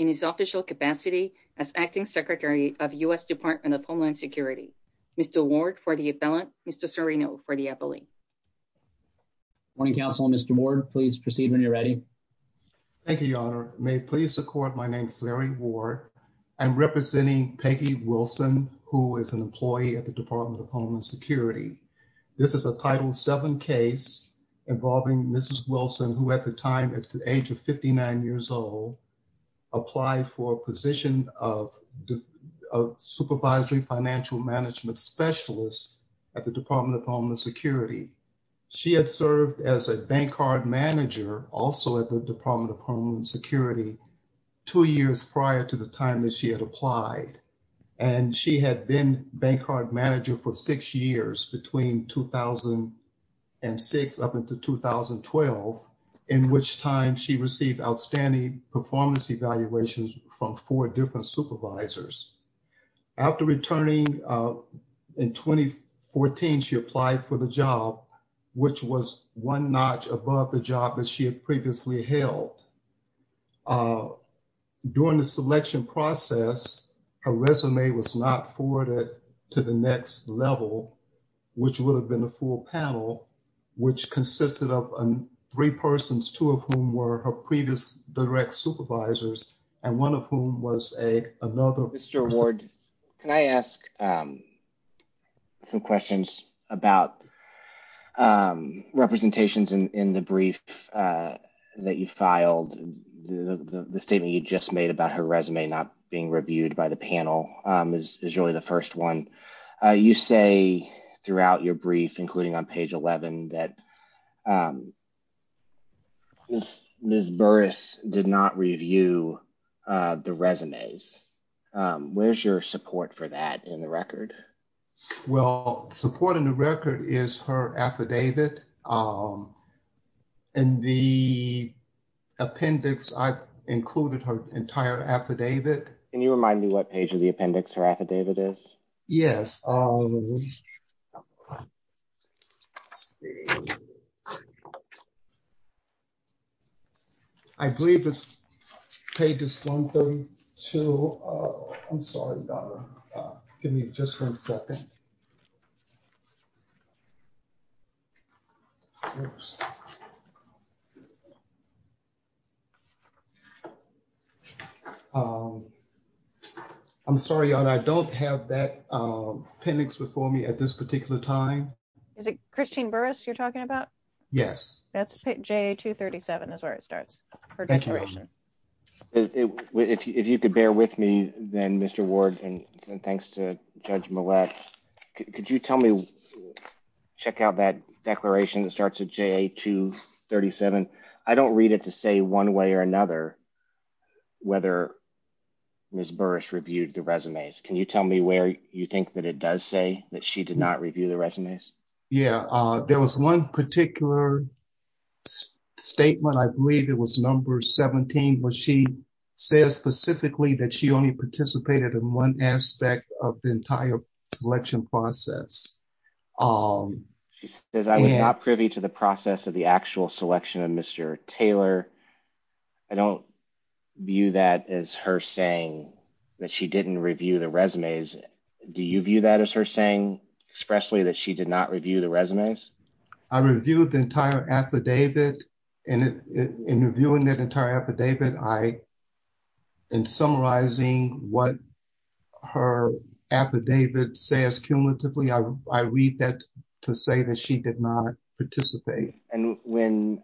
in his official capacity as Acting Secretary of U.S. Department of Homeland Security. Mr. Ward for the appellant, Mr. Serino for the appellate. Morning, counsel. Mr. Ward, please proceed when you're ready. Thank you, Your Honor. May it please the court, my name is Larry Ward. I'm representing Peggy Wilson, who is an employee at the Department of Homeland Security. This is a Title VII case involving Mrs. Wilson, who at the time at the age of 59 years old, applied for a position of Supervisory Financial Management Specialist at the Department of Homeland Security. She had served as a bank card manager also at the Department of Homeland Security two years prior to the time that she had applied. And she had been bank card manager for six years between 2006 up into 2012, in which time she received outstanding performance evaluations from four different supervisors. After returning in 2014, she applied for the job, which was one notch above the job that she had previously held. During the selection process, her resume was not forwarded to the next level, which would have been a full panel, which consisted of three persons, two of whom were her previous direct supervisors and one of whom was a another. Mr. Ward, can I ask some questions about representations in the brief that you filed? The statement you just made about her resume not being reviewed by the panel is really the first one. You say throughout your brief, including on page 11, that Ms. Burris did not review the resumes. Where's your support for that in the record? Well, the support in the record is her affidavit and the appendix. I've included her entire affidavit. Can you remind me what page of the appendix her affidavit is? Yes. I believe it's pages 132. I'm sorry. Give me just one second. Oops. I'm sorry, I don't have that appendix before me at this particular time. Is it Christine Burris you're talking about? Yes, that's J 237 is where it starts. If you could bear with me then, Mr. Ward, and thanks to Judge Millett. Could you tell me, check out that declaration that starts at J 237. I don't read it to say one way or another whether Ms. Burris reviewed the resumes. Can you tell me where you think that it does say that she did not review the resumes? Yeah, there was one particular statement. I believe it was number 17, where she says specifically that she only participated in one aspect of the entire selection process. She says I was not privy to the process of the actual selection of Mr. Taylor. I don't view that as her saying that she didn't review the resumes. Do you view that as her saying expressly that she did not review the resumes? I reviewed the entire affidavit and in reviewing that entire affidavit, I am summarizing what her affidavit says cumulatively. I read that to say that she did not participate. And when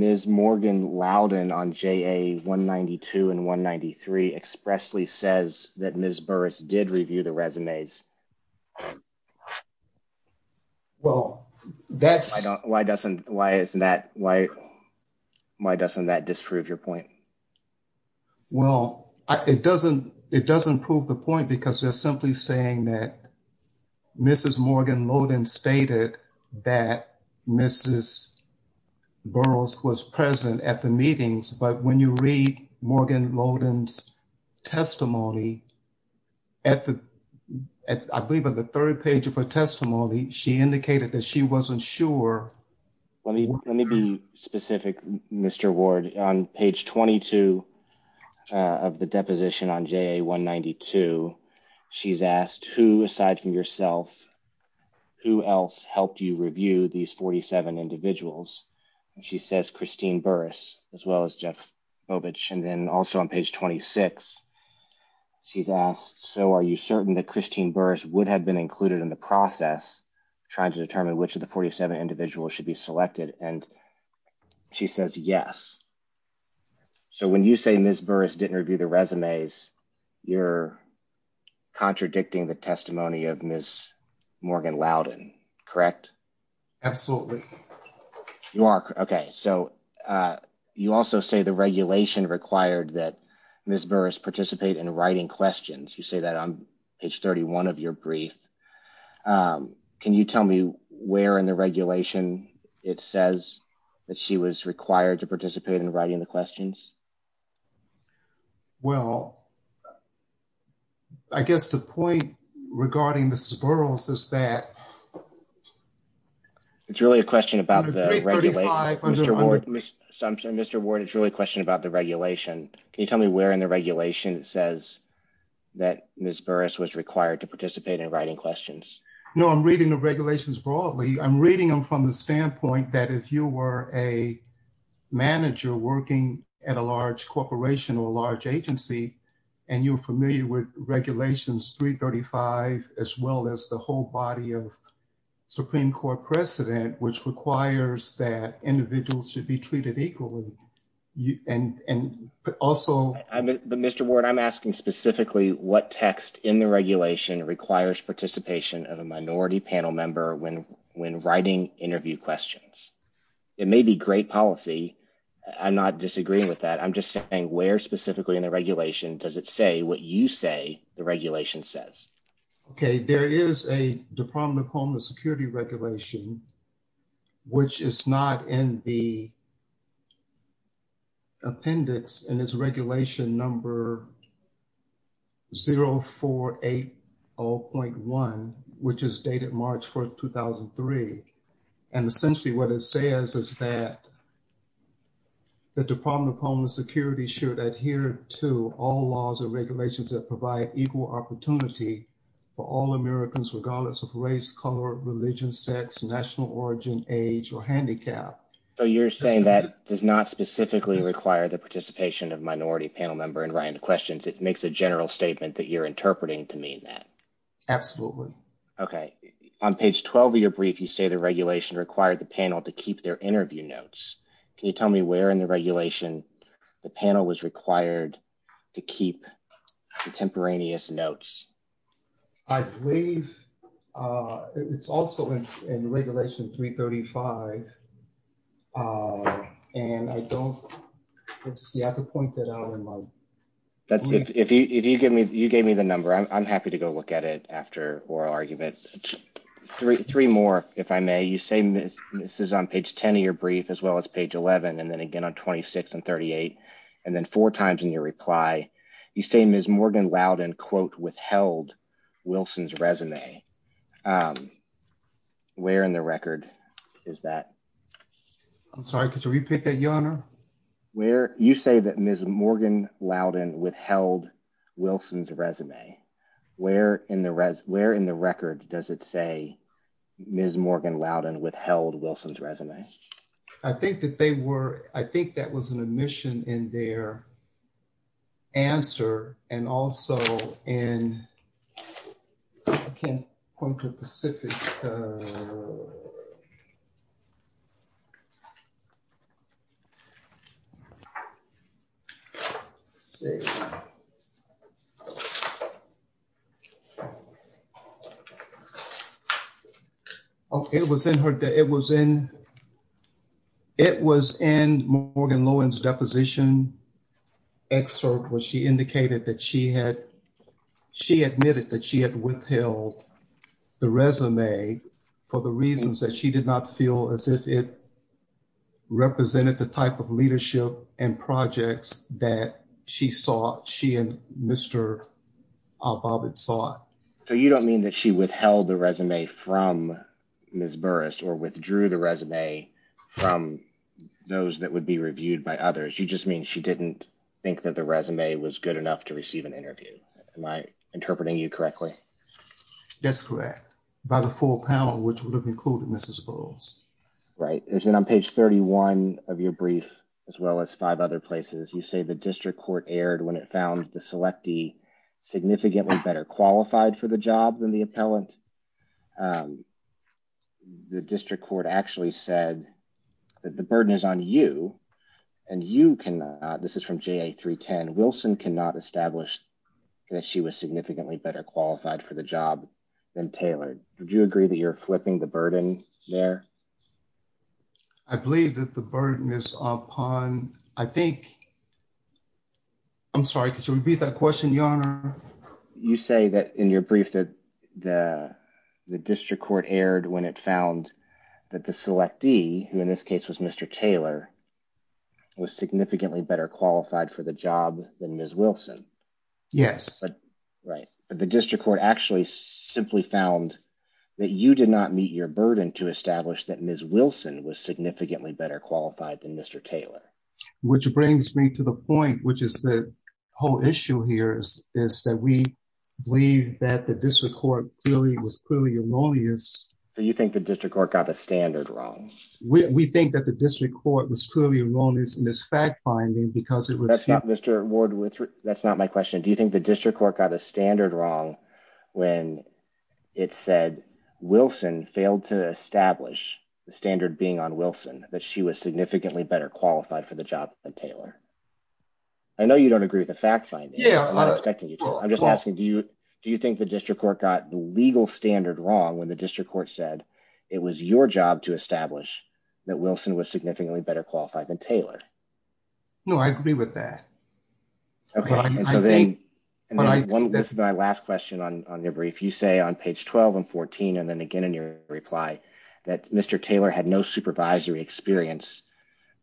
Ms. Morgan Loudon on JA 192 and 193 expressly says that Ms. Burris did review the resumes. Well, that's why doesn't why isn't that why? Why doesn't that disprove your point? Well, it doesn't it doesn't prove the point, because they're simply saying that Mrs. Morgan Loden stated that Mrs. Burris was present at the meetings. But when you read Morgan Loden's testimony. At the I believe on the third page of her testimony, she indicated that she wasn't sure. Let me let me be specific, Mr. Ward on page 22 of the deposition on JA 192. She's asked who aside from yourself, who else helped you review these 47 individuals? And she says Christine Burris, as well as Jeff Bobich. And then also on page 26. She's asked, so are you certain that Christine Burris would have been included in the process, trying to determine which of the 47 individuals should be selected? And she says yes. So when you say Ms. Burris didn't review the resumes, you're contradicting the testimony of Miss Morgan Loudon. Correct. Absolutely. You are. OK, so you also say the regulation required that Ms. Burris participate in writing questions. You say that on page 31 of your brief. Can you tell me where in the regulation it says that she was required to participate in writing the questions? Well, I guess the point regarding the Sparrow's is that it's really a question about Mr. Ward. Mr. Ward, it's really a question about the regulation. Can you tell me where in the regulation says that Ms. Burris was required to participate in writing questions? No, I'm reading the regulations broadly. I'm reading them from the standpoint that if you were a manager working at a large corporation or a large agency and you're familiar with regulations 335, as well as the whole body of Supreme Court precedent, which requires that individuals should be treated equally. And also, Mr. Ward, I'm asking specifically what text in the regulation requires participation of a minority panel member when when writing interview questions, it may be great policy. I'm not disagreeing with that. I'm just saying where specifically in the regulation does it say what you say the regulation says. OK, there is a Department of Homeland Security regulation, which is not in the. Appendix and its regulation number. 0 4 8 0.1, which is dated March 4th, 2003, and essentially what it says is that. The Department of Homeland Security should adhere to all laws and regulations that provide equal opportunity for all Americans, regardless of race, color, religion, sex, national origin, age or handicap. So you're saying that does not specifically require the participation of minority panel member and Ryan questions. It makes a general statement that you're interpreting to mean that. Absolutely. OK. On page 12 of your brief, you say the regulation required the panel to keep their interview notes. Can you tell me where in the regulation the panel was required to keep contemporaneous notes? I believe it's also in Regulation 335. And I don't see how to point that out. That's if you give me you gave me the number. I'm happy to go look at it after oral arguments. Three more, if I may. You say this is on page 10 of your brief as well as page 11 and then again on twenty six and thirty eight and then four times in your reply. You say Ms. Morgan Loudon, quote, withheld Wilson's resume. Where in the record is that? I'm sorry. Could you repeat that, Your Honor? Where you say that Ms. Morgan Loudon withheld Wilson's resume. Where in the where in the record does it say Ms. Morgan Loudon withheld Wilson's resume? I think that they were. I think that was an omission in their answer. And also in. I can't point to specific. It was in her. It was in. It was in Morgan Lowen's deposition excerpt where she indicated that she had she admitted that she had withheld the resume for the reasons that she did not feel as if it represented the type of leadership and projects that she saw. She and Mr. Bobbitt saw it. So you don't mean that she withheld the resume from Ms. Burris or withdrew the resume from those that would be reviewed by others. You just mean she didn't think that the resume was good enough to receive an interview. Am I interpreting you correctly? That's correct. By the full panel, which would have included Mrs. Burris. Right. It's on page 31 of your brief, as well as five other places. You say the district court erred when it found the selectee significantly better qualified for the job than the appellant. The district court actually said that the burden is on you and you can. This is from J.A. 310. Wilson cannot establish that she was significantly better qualified for the job than Taylor. Would you agree that you're flipping the burden there? I believe that the burden is upon, I think. I'm sorry. Could you repeat that question, Your Honor? You say that in your brief that the district court erred when it found that the selectee, who in this case was Mr. Taylor, was significantly better qualified for the job than Ms. Wilson. Yes. Right. But the district court actually simply found that you did not meet your burden to establish that Ms. Wilson was significantly better qualified than Mr. Taylor. Which brings me to the point, which is the whole issue here is that we believe that the district court clearly was erroneous. Do you think the district court got the standard wrong? We think that the district court was clearly erroneous in this fact-finding because it was... Mr. Ward, that's not my question. Do you think the district court got a standard wrong when it said Wilson failed to establish the standard being on Wilson, that she was significantly better qualified for the job than Taylor? I know you don't agree with the fact-finding. Yeah. I'm not expecting you to. I'm just asking, do you think the district court got the legal standard wrong when the district court said it was your job to establish that Wilson was significantly better qualified than Taylor? No, I agree with that. This is my last question on your brief. You say on page 12 and 14, and then again in your reply, that Mr. Taylor had no supervisory experience,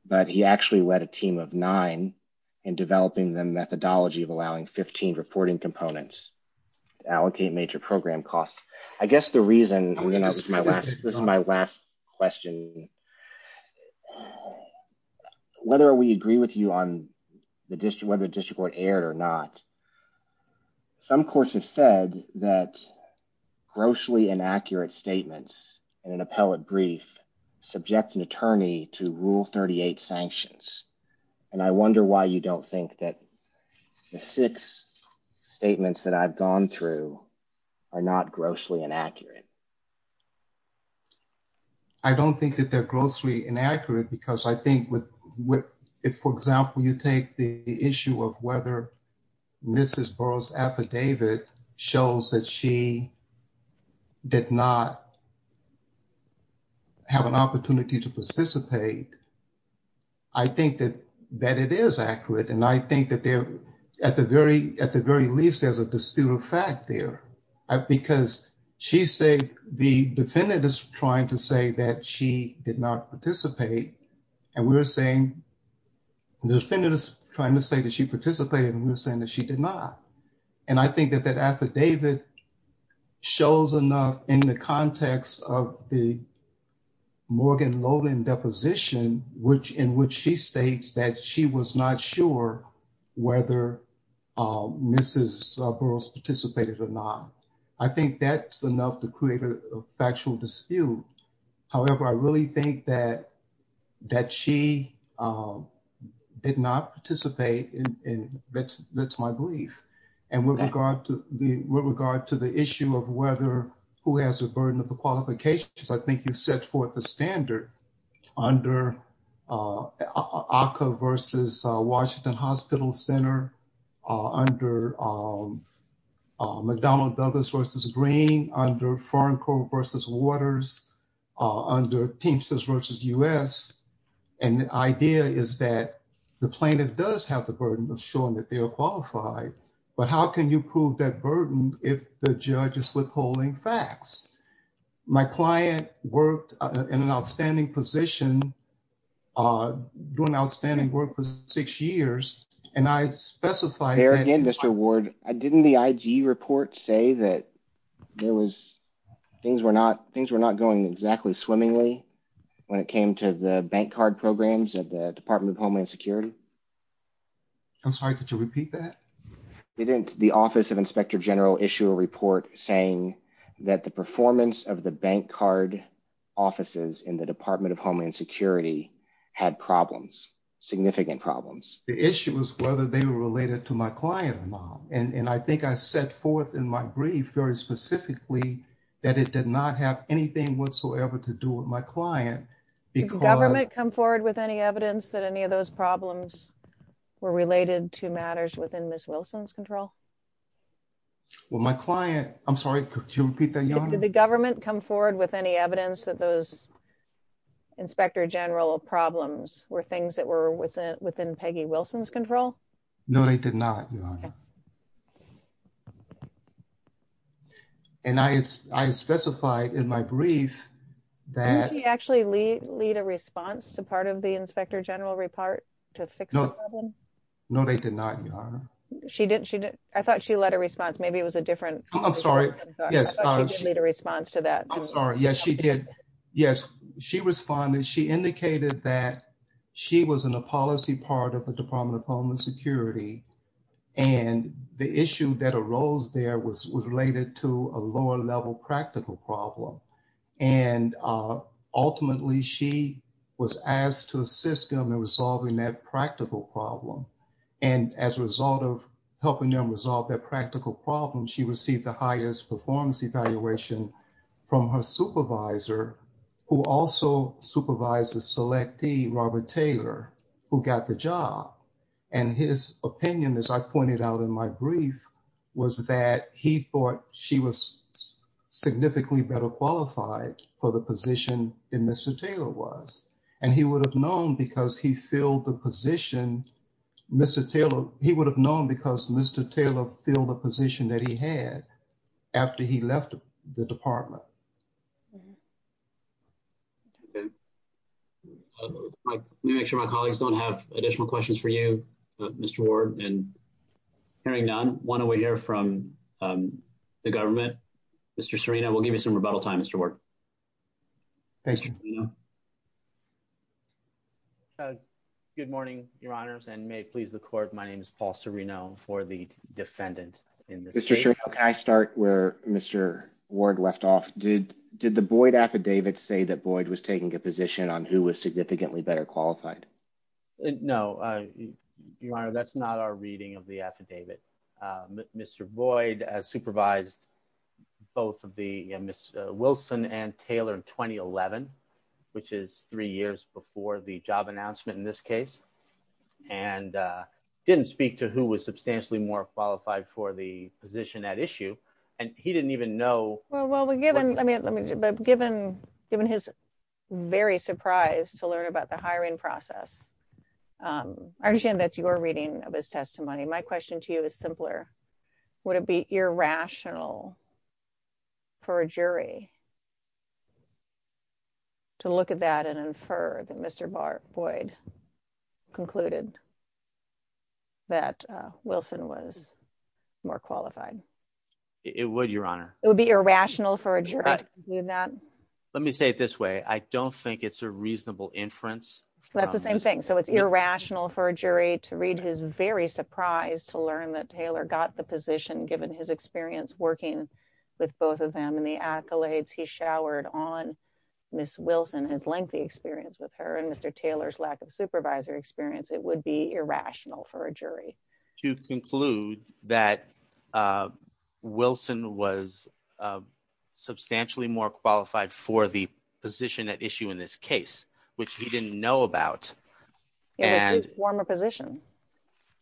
but he actually led a team of nine in developing the methodology of allowing 15 reporting components to allocate major program costs. I guess the reason, this is my last question, whether we agree with you on whether the district court erred or not, some courts have said that grossly inaccurate statements in an appellate brief subject an attorney to Rule 38 sanctions. And I wonder why you don't think that the six statements that I've gone through are not grossly inaccurate. I don't think that they're grossly inaccurate, because I think if, for example, you take the issue of whether Mrs. Burroughs' affidavit shows that she did not have an opportunity to participate, I think that it is accurate. And I think that at the very least, there's a disputed fact there, because the defendant is trying to say that she did not participate, and we're saying, the defendant is trying to say that she participated, and we're saying that she did not. And I think that that affidavit shows enough in the context of the Morgan Lowland deposition, in which she states that she was not sure whether Mrs. Burroughs participated or not. I think that's enough to create a factual dispute. However, I really think that she did not participate, and that's my belief. And with regard to the issue of whether who has the burden of the qualifications, I think you set forth the standard under ACCA versus Washington Hospital Center, under McDonald Douglas versus Green, under Foreign Corp versus Waters, under Teamsters versus U.S. And the idea is that the plaintiff does have the burden of showing that they are qualified, but how can you prove that burden if the judge is withholding facts? My client worked in an outstanding position, doing outstanding work for six years, and I specified that… There again, Mr. Ward, didn't the IG report say that things were not going exactly swimmingly when it came to the bank card programs at the Department of Homeland Security? I'm sorry, did you repeat that? Didn't the Office of Inspector General issue a report saying that the performance of the bank card offices in the Department of Homeland Security had problems, significant problems? The issue was whether they were related to my client or not, and I think I set forth in my brief very specifically that it did not have anything whatsoever to do with my client because… Well, my client… I'm sorry, could you repeat that, Your Honor? Did the government come forward with any evidence that those Inspector General problems were things that were within Peggy Wilson's control? No, they did not, Your Honor. And I specified in my brief that… Didn't she actually lead a response to part of the Inspector General report to fix the problem? No, they did not, Your Honor. I thought she led a response. Maybe it was a different… I'm sorry. Yes. I thought she didn't lead a response to that. I'm sorry. Yes, she did. Yes, she responded. She indicated that she was in a policy part of the Department of Homeland Security, and the issue that arose there was related to a lower-level practical problem. And ultimately, she was asked to assist them in resolving that practical problem. And as a result of helping them resolve that practical problem, she received the highest performance evaluation from her supervisor, who also supervised a selectee, Robert Taylor, who got the job. And his opinion, as I pointed out in my brief, was that he thought she was significantly better qualified for the position than Mr. Taylor was. And he would have known because he filled the position. Mr. Taylor, he would have known because Mr. Taylor filled the position that he had after he left the department. Okay. Let me make sure my colleagues don't have additional questions for you, Mr. Ward. And hearing none, why don't we hear from the government? Mr. Serino, we'll give you some rebuttal time, Mr. Ward. Thank you. Good morning, Your Honors, and may it please the Court, my name is Paul Serino for the defendant in this case. Mr. Serino, can I start where Mr. Ward left off? Did the Boyd affidavit say that Boyd was taking a position on who was significantly better qualified? No, Your Honor, that's not our reading of the affidavit. Mr. Boyd supervised both of the Ms. Wilson and Taylor in 2011, which is three years before the job announcement in this case, and didn't speak to who was substantially more qualified for the position at issue. And he didn't even know. Well, given his very surprise to learn about the hiring process, I understand that's your reading of his testimony. My question to you is simpler. Would it be irrational for a jury to look at that and infer that Mr. Boyd concluded that Wilson was more qualified? It would, Your Honor. It would be irrational for a jury to conclude that? Let me say it this way. I don't think it's a reasonable inference. That's the same thing. So it's irrational for a jury to read his very surprise to learn that Taylor got the position given his experience working with both of them and the accolades he showered on Ms. Wilson, his lengthy experience with her, and Mr. Taylor's lack of supervisor experience. It would be irrational for a jury. To conclude that Wilson was substantially more qualified for the position at issue in this case, which he didn't know about. In his former position.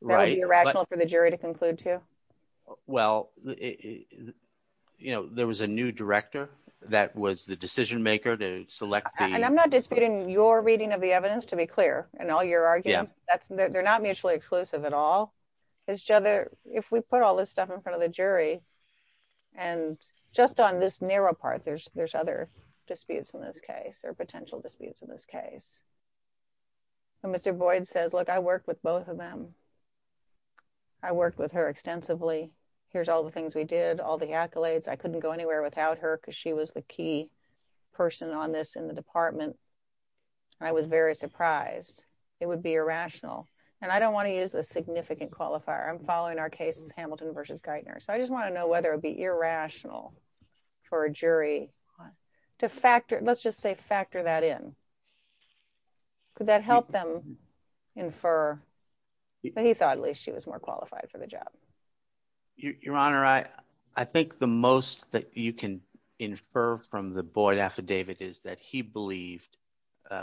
Right. That would be irrational for the jury to conclude to? Well, you know, there was a new director that was the decision maker to select. And I'm not disputing your reading of the evidence, to be clear, and all your arguments. They're not mutually exclusive at all. If we put all this stuff in front of the jury, and just on this narrow part, there's other disputes in this case or potential disputes in this case. Mr. Boyd says, Look, I worked with both of them. I worked with her extensively. Here's all the things we did all the accolades I couldn't go anywhere without her because she was the key person on this in the department. I was very surprised. It would be irrational. And I don't want to use the significant qualifier I'm following our case, Hamilton versus Geithner so I just want to know whether it'd be irrational for a jury to factor, let's just say factor that in. Could that help them infer that he thought at least she was more qualified for the job. Your Honor, I, I think the most that you can infer from the Boyd affidavit is that he believed,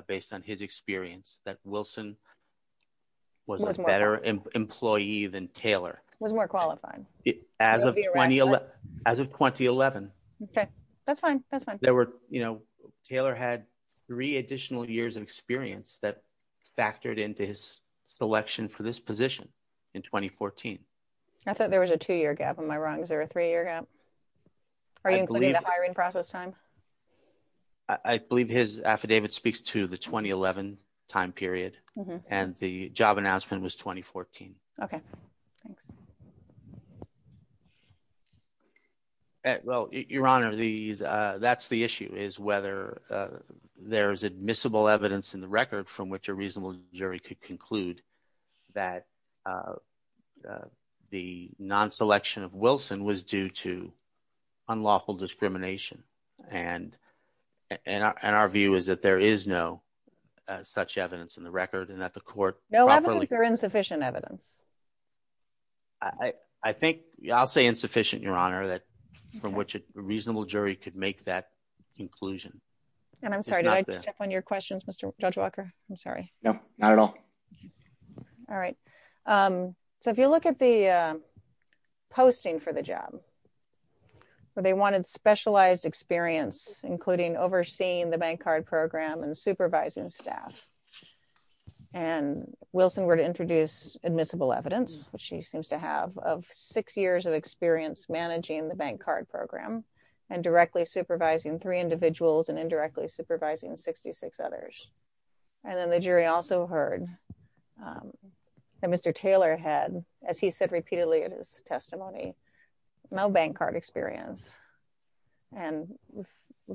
based on his experience that Wilson was a better employee than Taylor was more qualified. As of 2011, as of 2011. Okay, that's fine. That's fine. There were, you know, Taylor had three additional years of experience that factored into his selection for this position in 2014. I thought there was a two year gap on my rungs or a three year gap. Are you including the hiring process time. I believe his affidavit speaks to the 2011 time period, and the job announcement was 2014. Okay, thanks. Well, Your Honor, these. That's the issue is whether there's admissible evidence in the record from which a reasonable jury could conclude that the non selection of Wilson was due to unlawful discrimination and, and our view is that there is no such evidence in the record and that the court. No evidence or insufficient evidence. I think I'll say insufficient Your Honor that from which a reasonable jury could make that conclusion. And I'm sorry to step on your questions, Mr. Judge Walker. I'm sorry. No, not at all. All right. So if you look at the posting for the job where they wanted specialized experience, including overseeing the bank card program and supervising staff. And Wilson were to introduce admissible evidence, which she seems to have six years of experience managing the bank card program and directly supervising three individuals and indirectly supervising 66 others. And then the jury also heard that Mr. Taylor had, as he said repeatedly in his testimony, no bank card experience and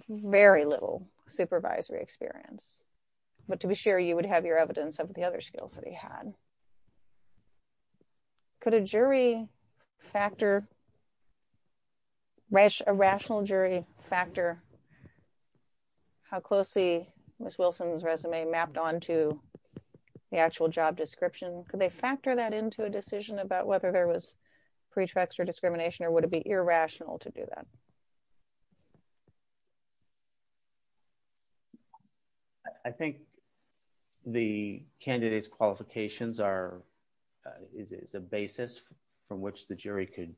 very little supervisory experience, but to be sure you would have your evidence of the other skills that he had. Could a jury factor. A rational jury factor. How closely was Wilson's resume mapped on to the actual job description, could they factor that into a decision about whether there was pretext or discrimination or would it be irrational to do that. I think the candidates qualifications are is a basis from which the jury could,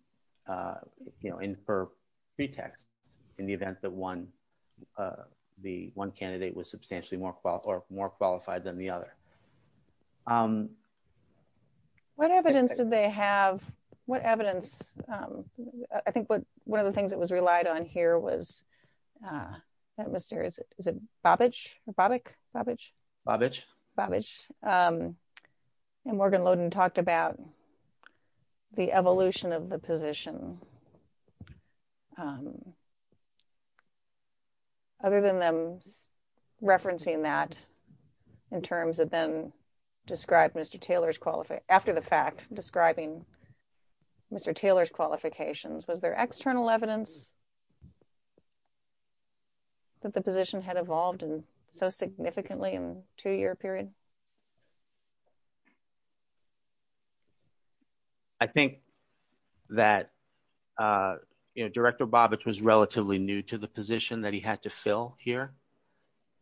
you know, infer pretext in the event that one. The one candidate was substantially more or more qualified than the other. What evidence did they have what evidence. I think what one of the things that was relied on here was that mysterious is a bobbage bobbage bobbage bobbage and Morgan Loden talked about the evolution of the position. Other than them referencing that in terms of then described Mr. Taylor's qualified after the fact, describing Mr. Taylor's qualifications was there external evidence. That the position had evolved and so significantly in two year period. I think that, you know, Director Bobby was relatively new to the position that he had to fill here.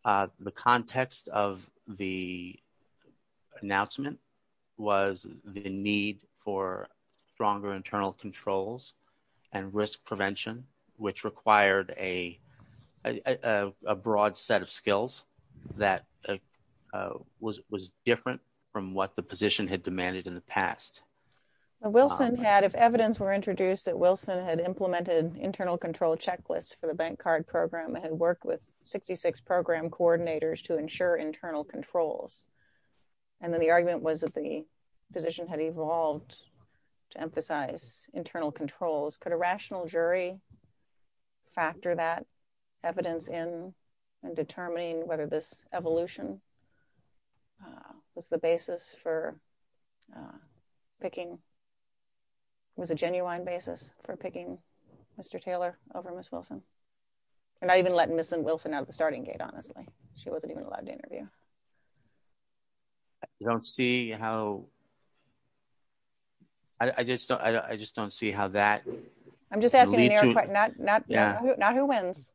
The context of the announcement was the need for stronger internal controls and risk prevention, which required a broad set of skills that was different from what the position had demanded in the past. Wilson had if evidence were introduced that Wilson had implemented internal control checklist for the bank card program and work with 66 program coordinators to ensure internal controls. And then the argument was that the position had evolved to emphasize internal controls could a rational jury factor that evidence in and determining whether this evolution was the basis for picking was a genuine basis for picking Mr. Wilson out of the starting gate, honestly, she wasn't even allowed to interview. Don't see how. I just don't I just don't see how that. I'm just asking. Not who wins.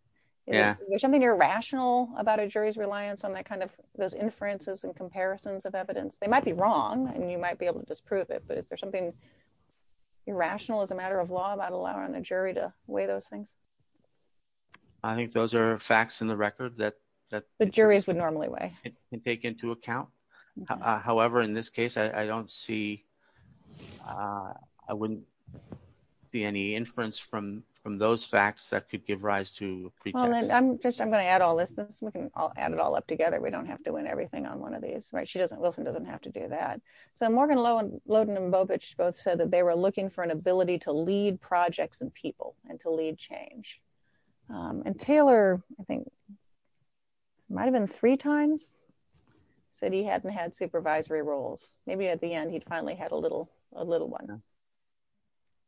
Yeah, there's something irrational about a jury's reliance on that kind of those inferences and comparisons of evidence, they might be wrong and you might be able to disprove it but is there something irrational as a matter of law about allowing a jury to weigh those things. I don't see any facts in the record that that the juries would normally way, and take into account. However, in this case I don't see. I wouldn't be any inference from from those facts that could give rise to preachers, I'm just I'm going to add all this this we can all add it all up together we don't have to win everything on one of these right she doesn't Wilson doesn't have to do that. So Morgan low and loading them both both said that they were looking for an ability to lead projects and people, and to lead change and Taylor, I think, might have been three times said he hadn't had supervisory roles, maybe at the end he'd finally had a little, a little one.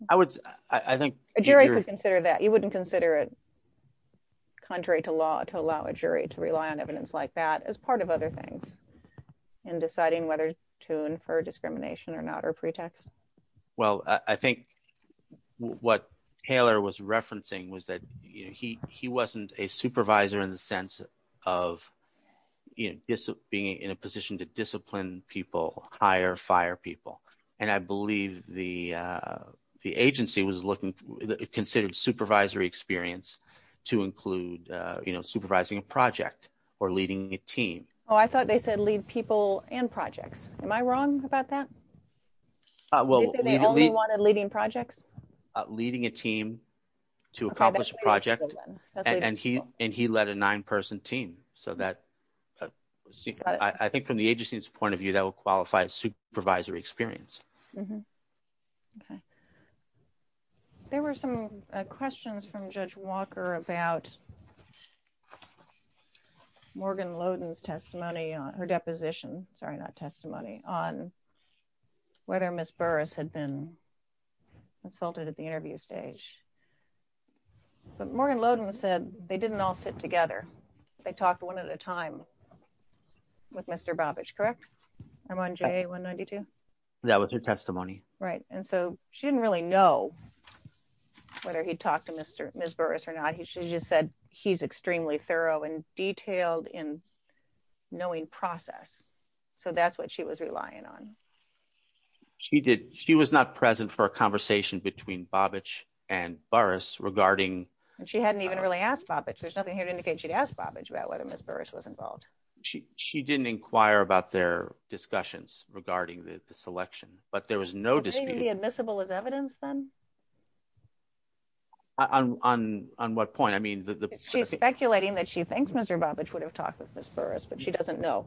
I would, I think, Jerry consider that you wouldn't consider it. Contrary to law to allow a jury to rely on evidence like that as part of other things, and deciding whether to infer discrimination or not or pretext. Well, I think what Taylor was referencing was that he, he wasn't a supervisor in the sense of being in a position to discipline people hire fire people. And I believe the, the agency was looking considered supervisory experience to include, you know, supervising a project or leading a team. Oh, I thought they said lead people and projects, am I wrong about that. Well, we wanted leading projects, leading a team to accomplish a project, and he, and he led a nine person team, so that I think from the agency's point of view that will qualify as supervisory experience. Okay. There were some questions from Judge Walker about Morgan Logan's testimony on her deposition, sorry not testimony on whether Miss Burris had been insulted at the interview stage. But Morgan Logan said they didn't all sit together. They talked one at a time with Mr Babbage correct. I'm on j 192. That was her testimony. Right. And so, she didn't really know whether he talked to Mr. Miss Burris or not he should just said, he's extremely thorough and detailed in knowing process. So that's what she was relying on. She did, she was not present for a conversation between Babbage and Burris regarding, and she hadn't even really asked about it there's nothing here to indicate she'd asked Babbage about whether Miss Burris was involved, she, she didn't inquire about their discussions regarding the selection, but there was no dispute admissible as evidence then on, on, on what point I mean the speculating that she thinks Mr Babbage would have talked with Miss Burris but she doesn't know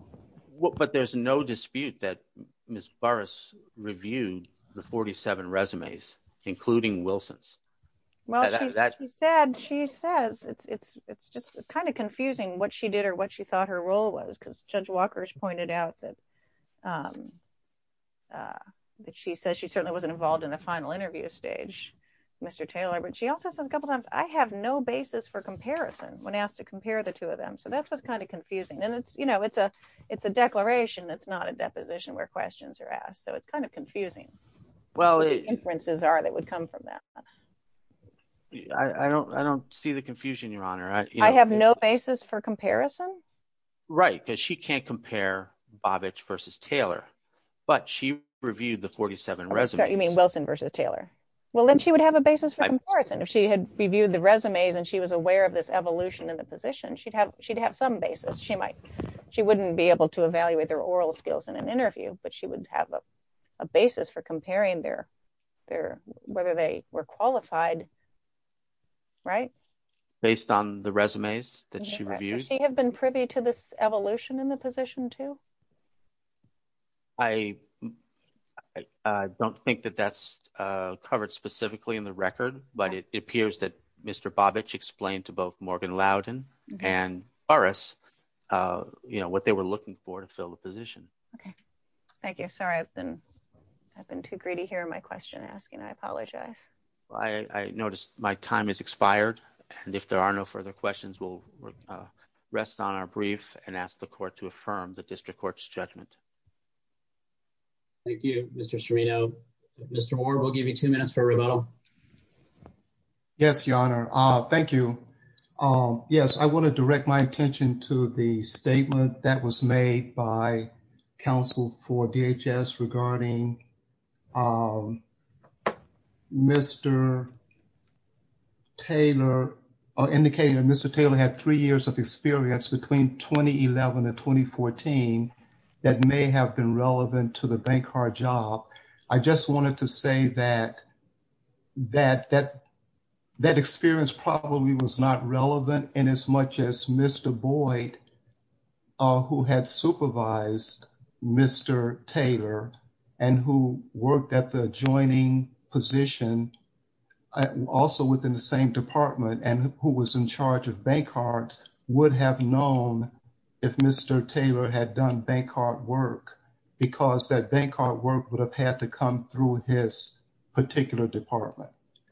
what but there's no dispute that Miss Burris reviewed the 47 resumes, including Wilson's. Well, that said, she says it's it's it's just it's kind of confusing what she did or what she thought her role was because Judge Walker's pointed out that that she says she certainly wasn't involved in the final interview stage. Mr. Taylor but she also says a couple times I have no basis for comparison, when asked to compare the two of them so that's what's kind of confusing and it's you know it's a, it's a declaration that's not a deposition where questions are asked so it's kind of confusing. Well, inferences are that would come from that. I don't I don't see the confusion Your Honor, I have no basis for comparison. Right, because she can't compare Babbage versus Taylor, but she reviewed the 47 resume Wilson versus Taylor. Well then she would have a basis for comparison if she had reviewed the resumes and she was aware of this evolution in the position she'd have, she'd have some basis she might. She wouldn't be able to evaluate their oral skills in an interview, but she wouldn't have a basis for comparing their, their, whether they were qualified. Right. Based on the resumes that she reviews. She have been privy to this evolution in the position to. I, I don't think that that's covered specifically in the record, but it appears that Mr Babbage explained to both Morgan Loudon and RS. You know what they were looking for to fill the position. Okay. Thank you. Sorry, I've been. I've been too greedy here my question asking I apologize. I noticed my time is expired. And if there are no further questions will rest on our brief and ask the court to affirm the district court's judgment. Thank you, Mr Serino. Mr Moore will give you two minutes for rebuttal. Yes, your honor. Thank you. Yes, I want to direct my attention to the statement that was made by counsel for DHS regarding Mr. Taylor, indicating that Mr Taylor had three years of experience between 2011 and 2014 that may have been relevant to the bank card job. I just wanted to say that, that, that, that experience probably was not relevant in as much as Mr Boyd, who had supervised Mr Taylor, and who worked at the adjoining position. Also, within the same department, and who was in charge of bank cards would have known if Mr Taylor had done bank card work, because that bank card work would have had to come through his particular department.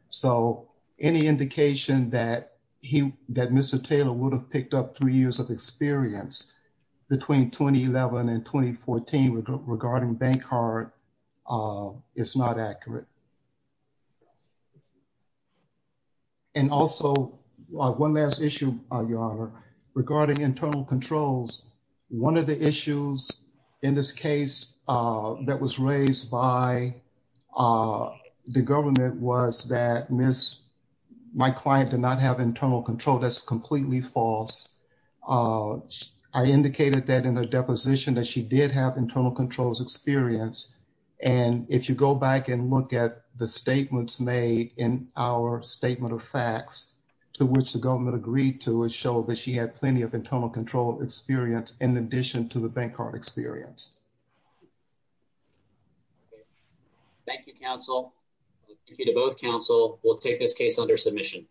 So, any indication that he that Mr Taylor would have picked up three years of experience between 2011 and 2014 regarding bank card. It's not accurate. And also, one last issue, your honor, regarding internal controls. One of the issues in this case that was raised by the government was that Miss, my client did not have internal control that's completely false. I indicated that in a deposition that she did have internal controls experience. And if you go back and look at the statements made in our statement of facts to which the government agreed to, it showed that she had plenty of internal control experience in addition to the bank card experience. Thank you, counsel. Thank you to both counsel. We'll take this case under submission.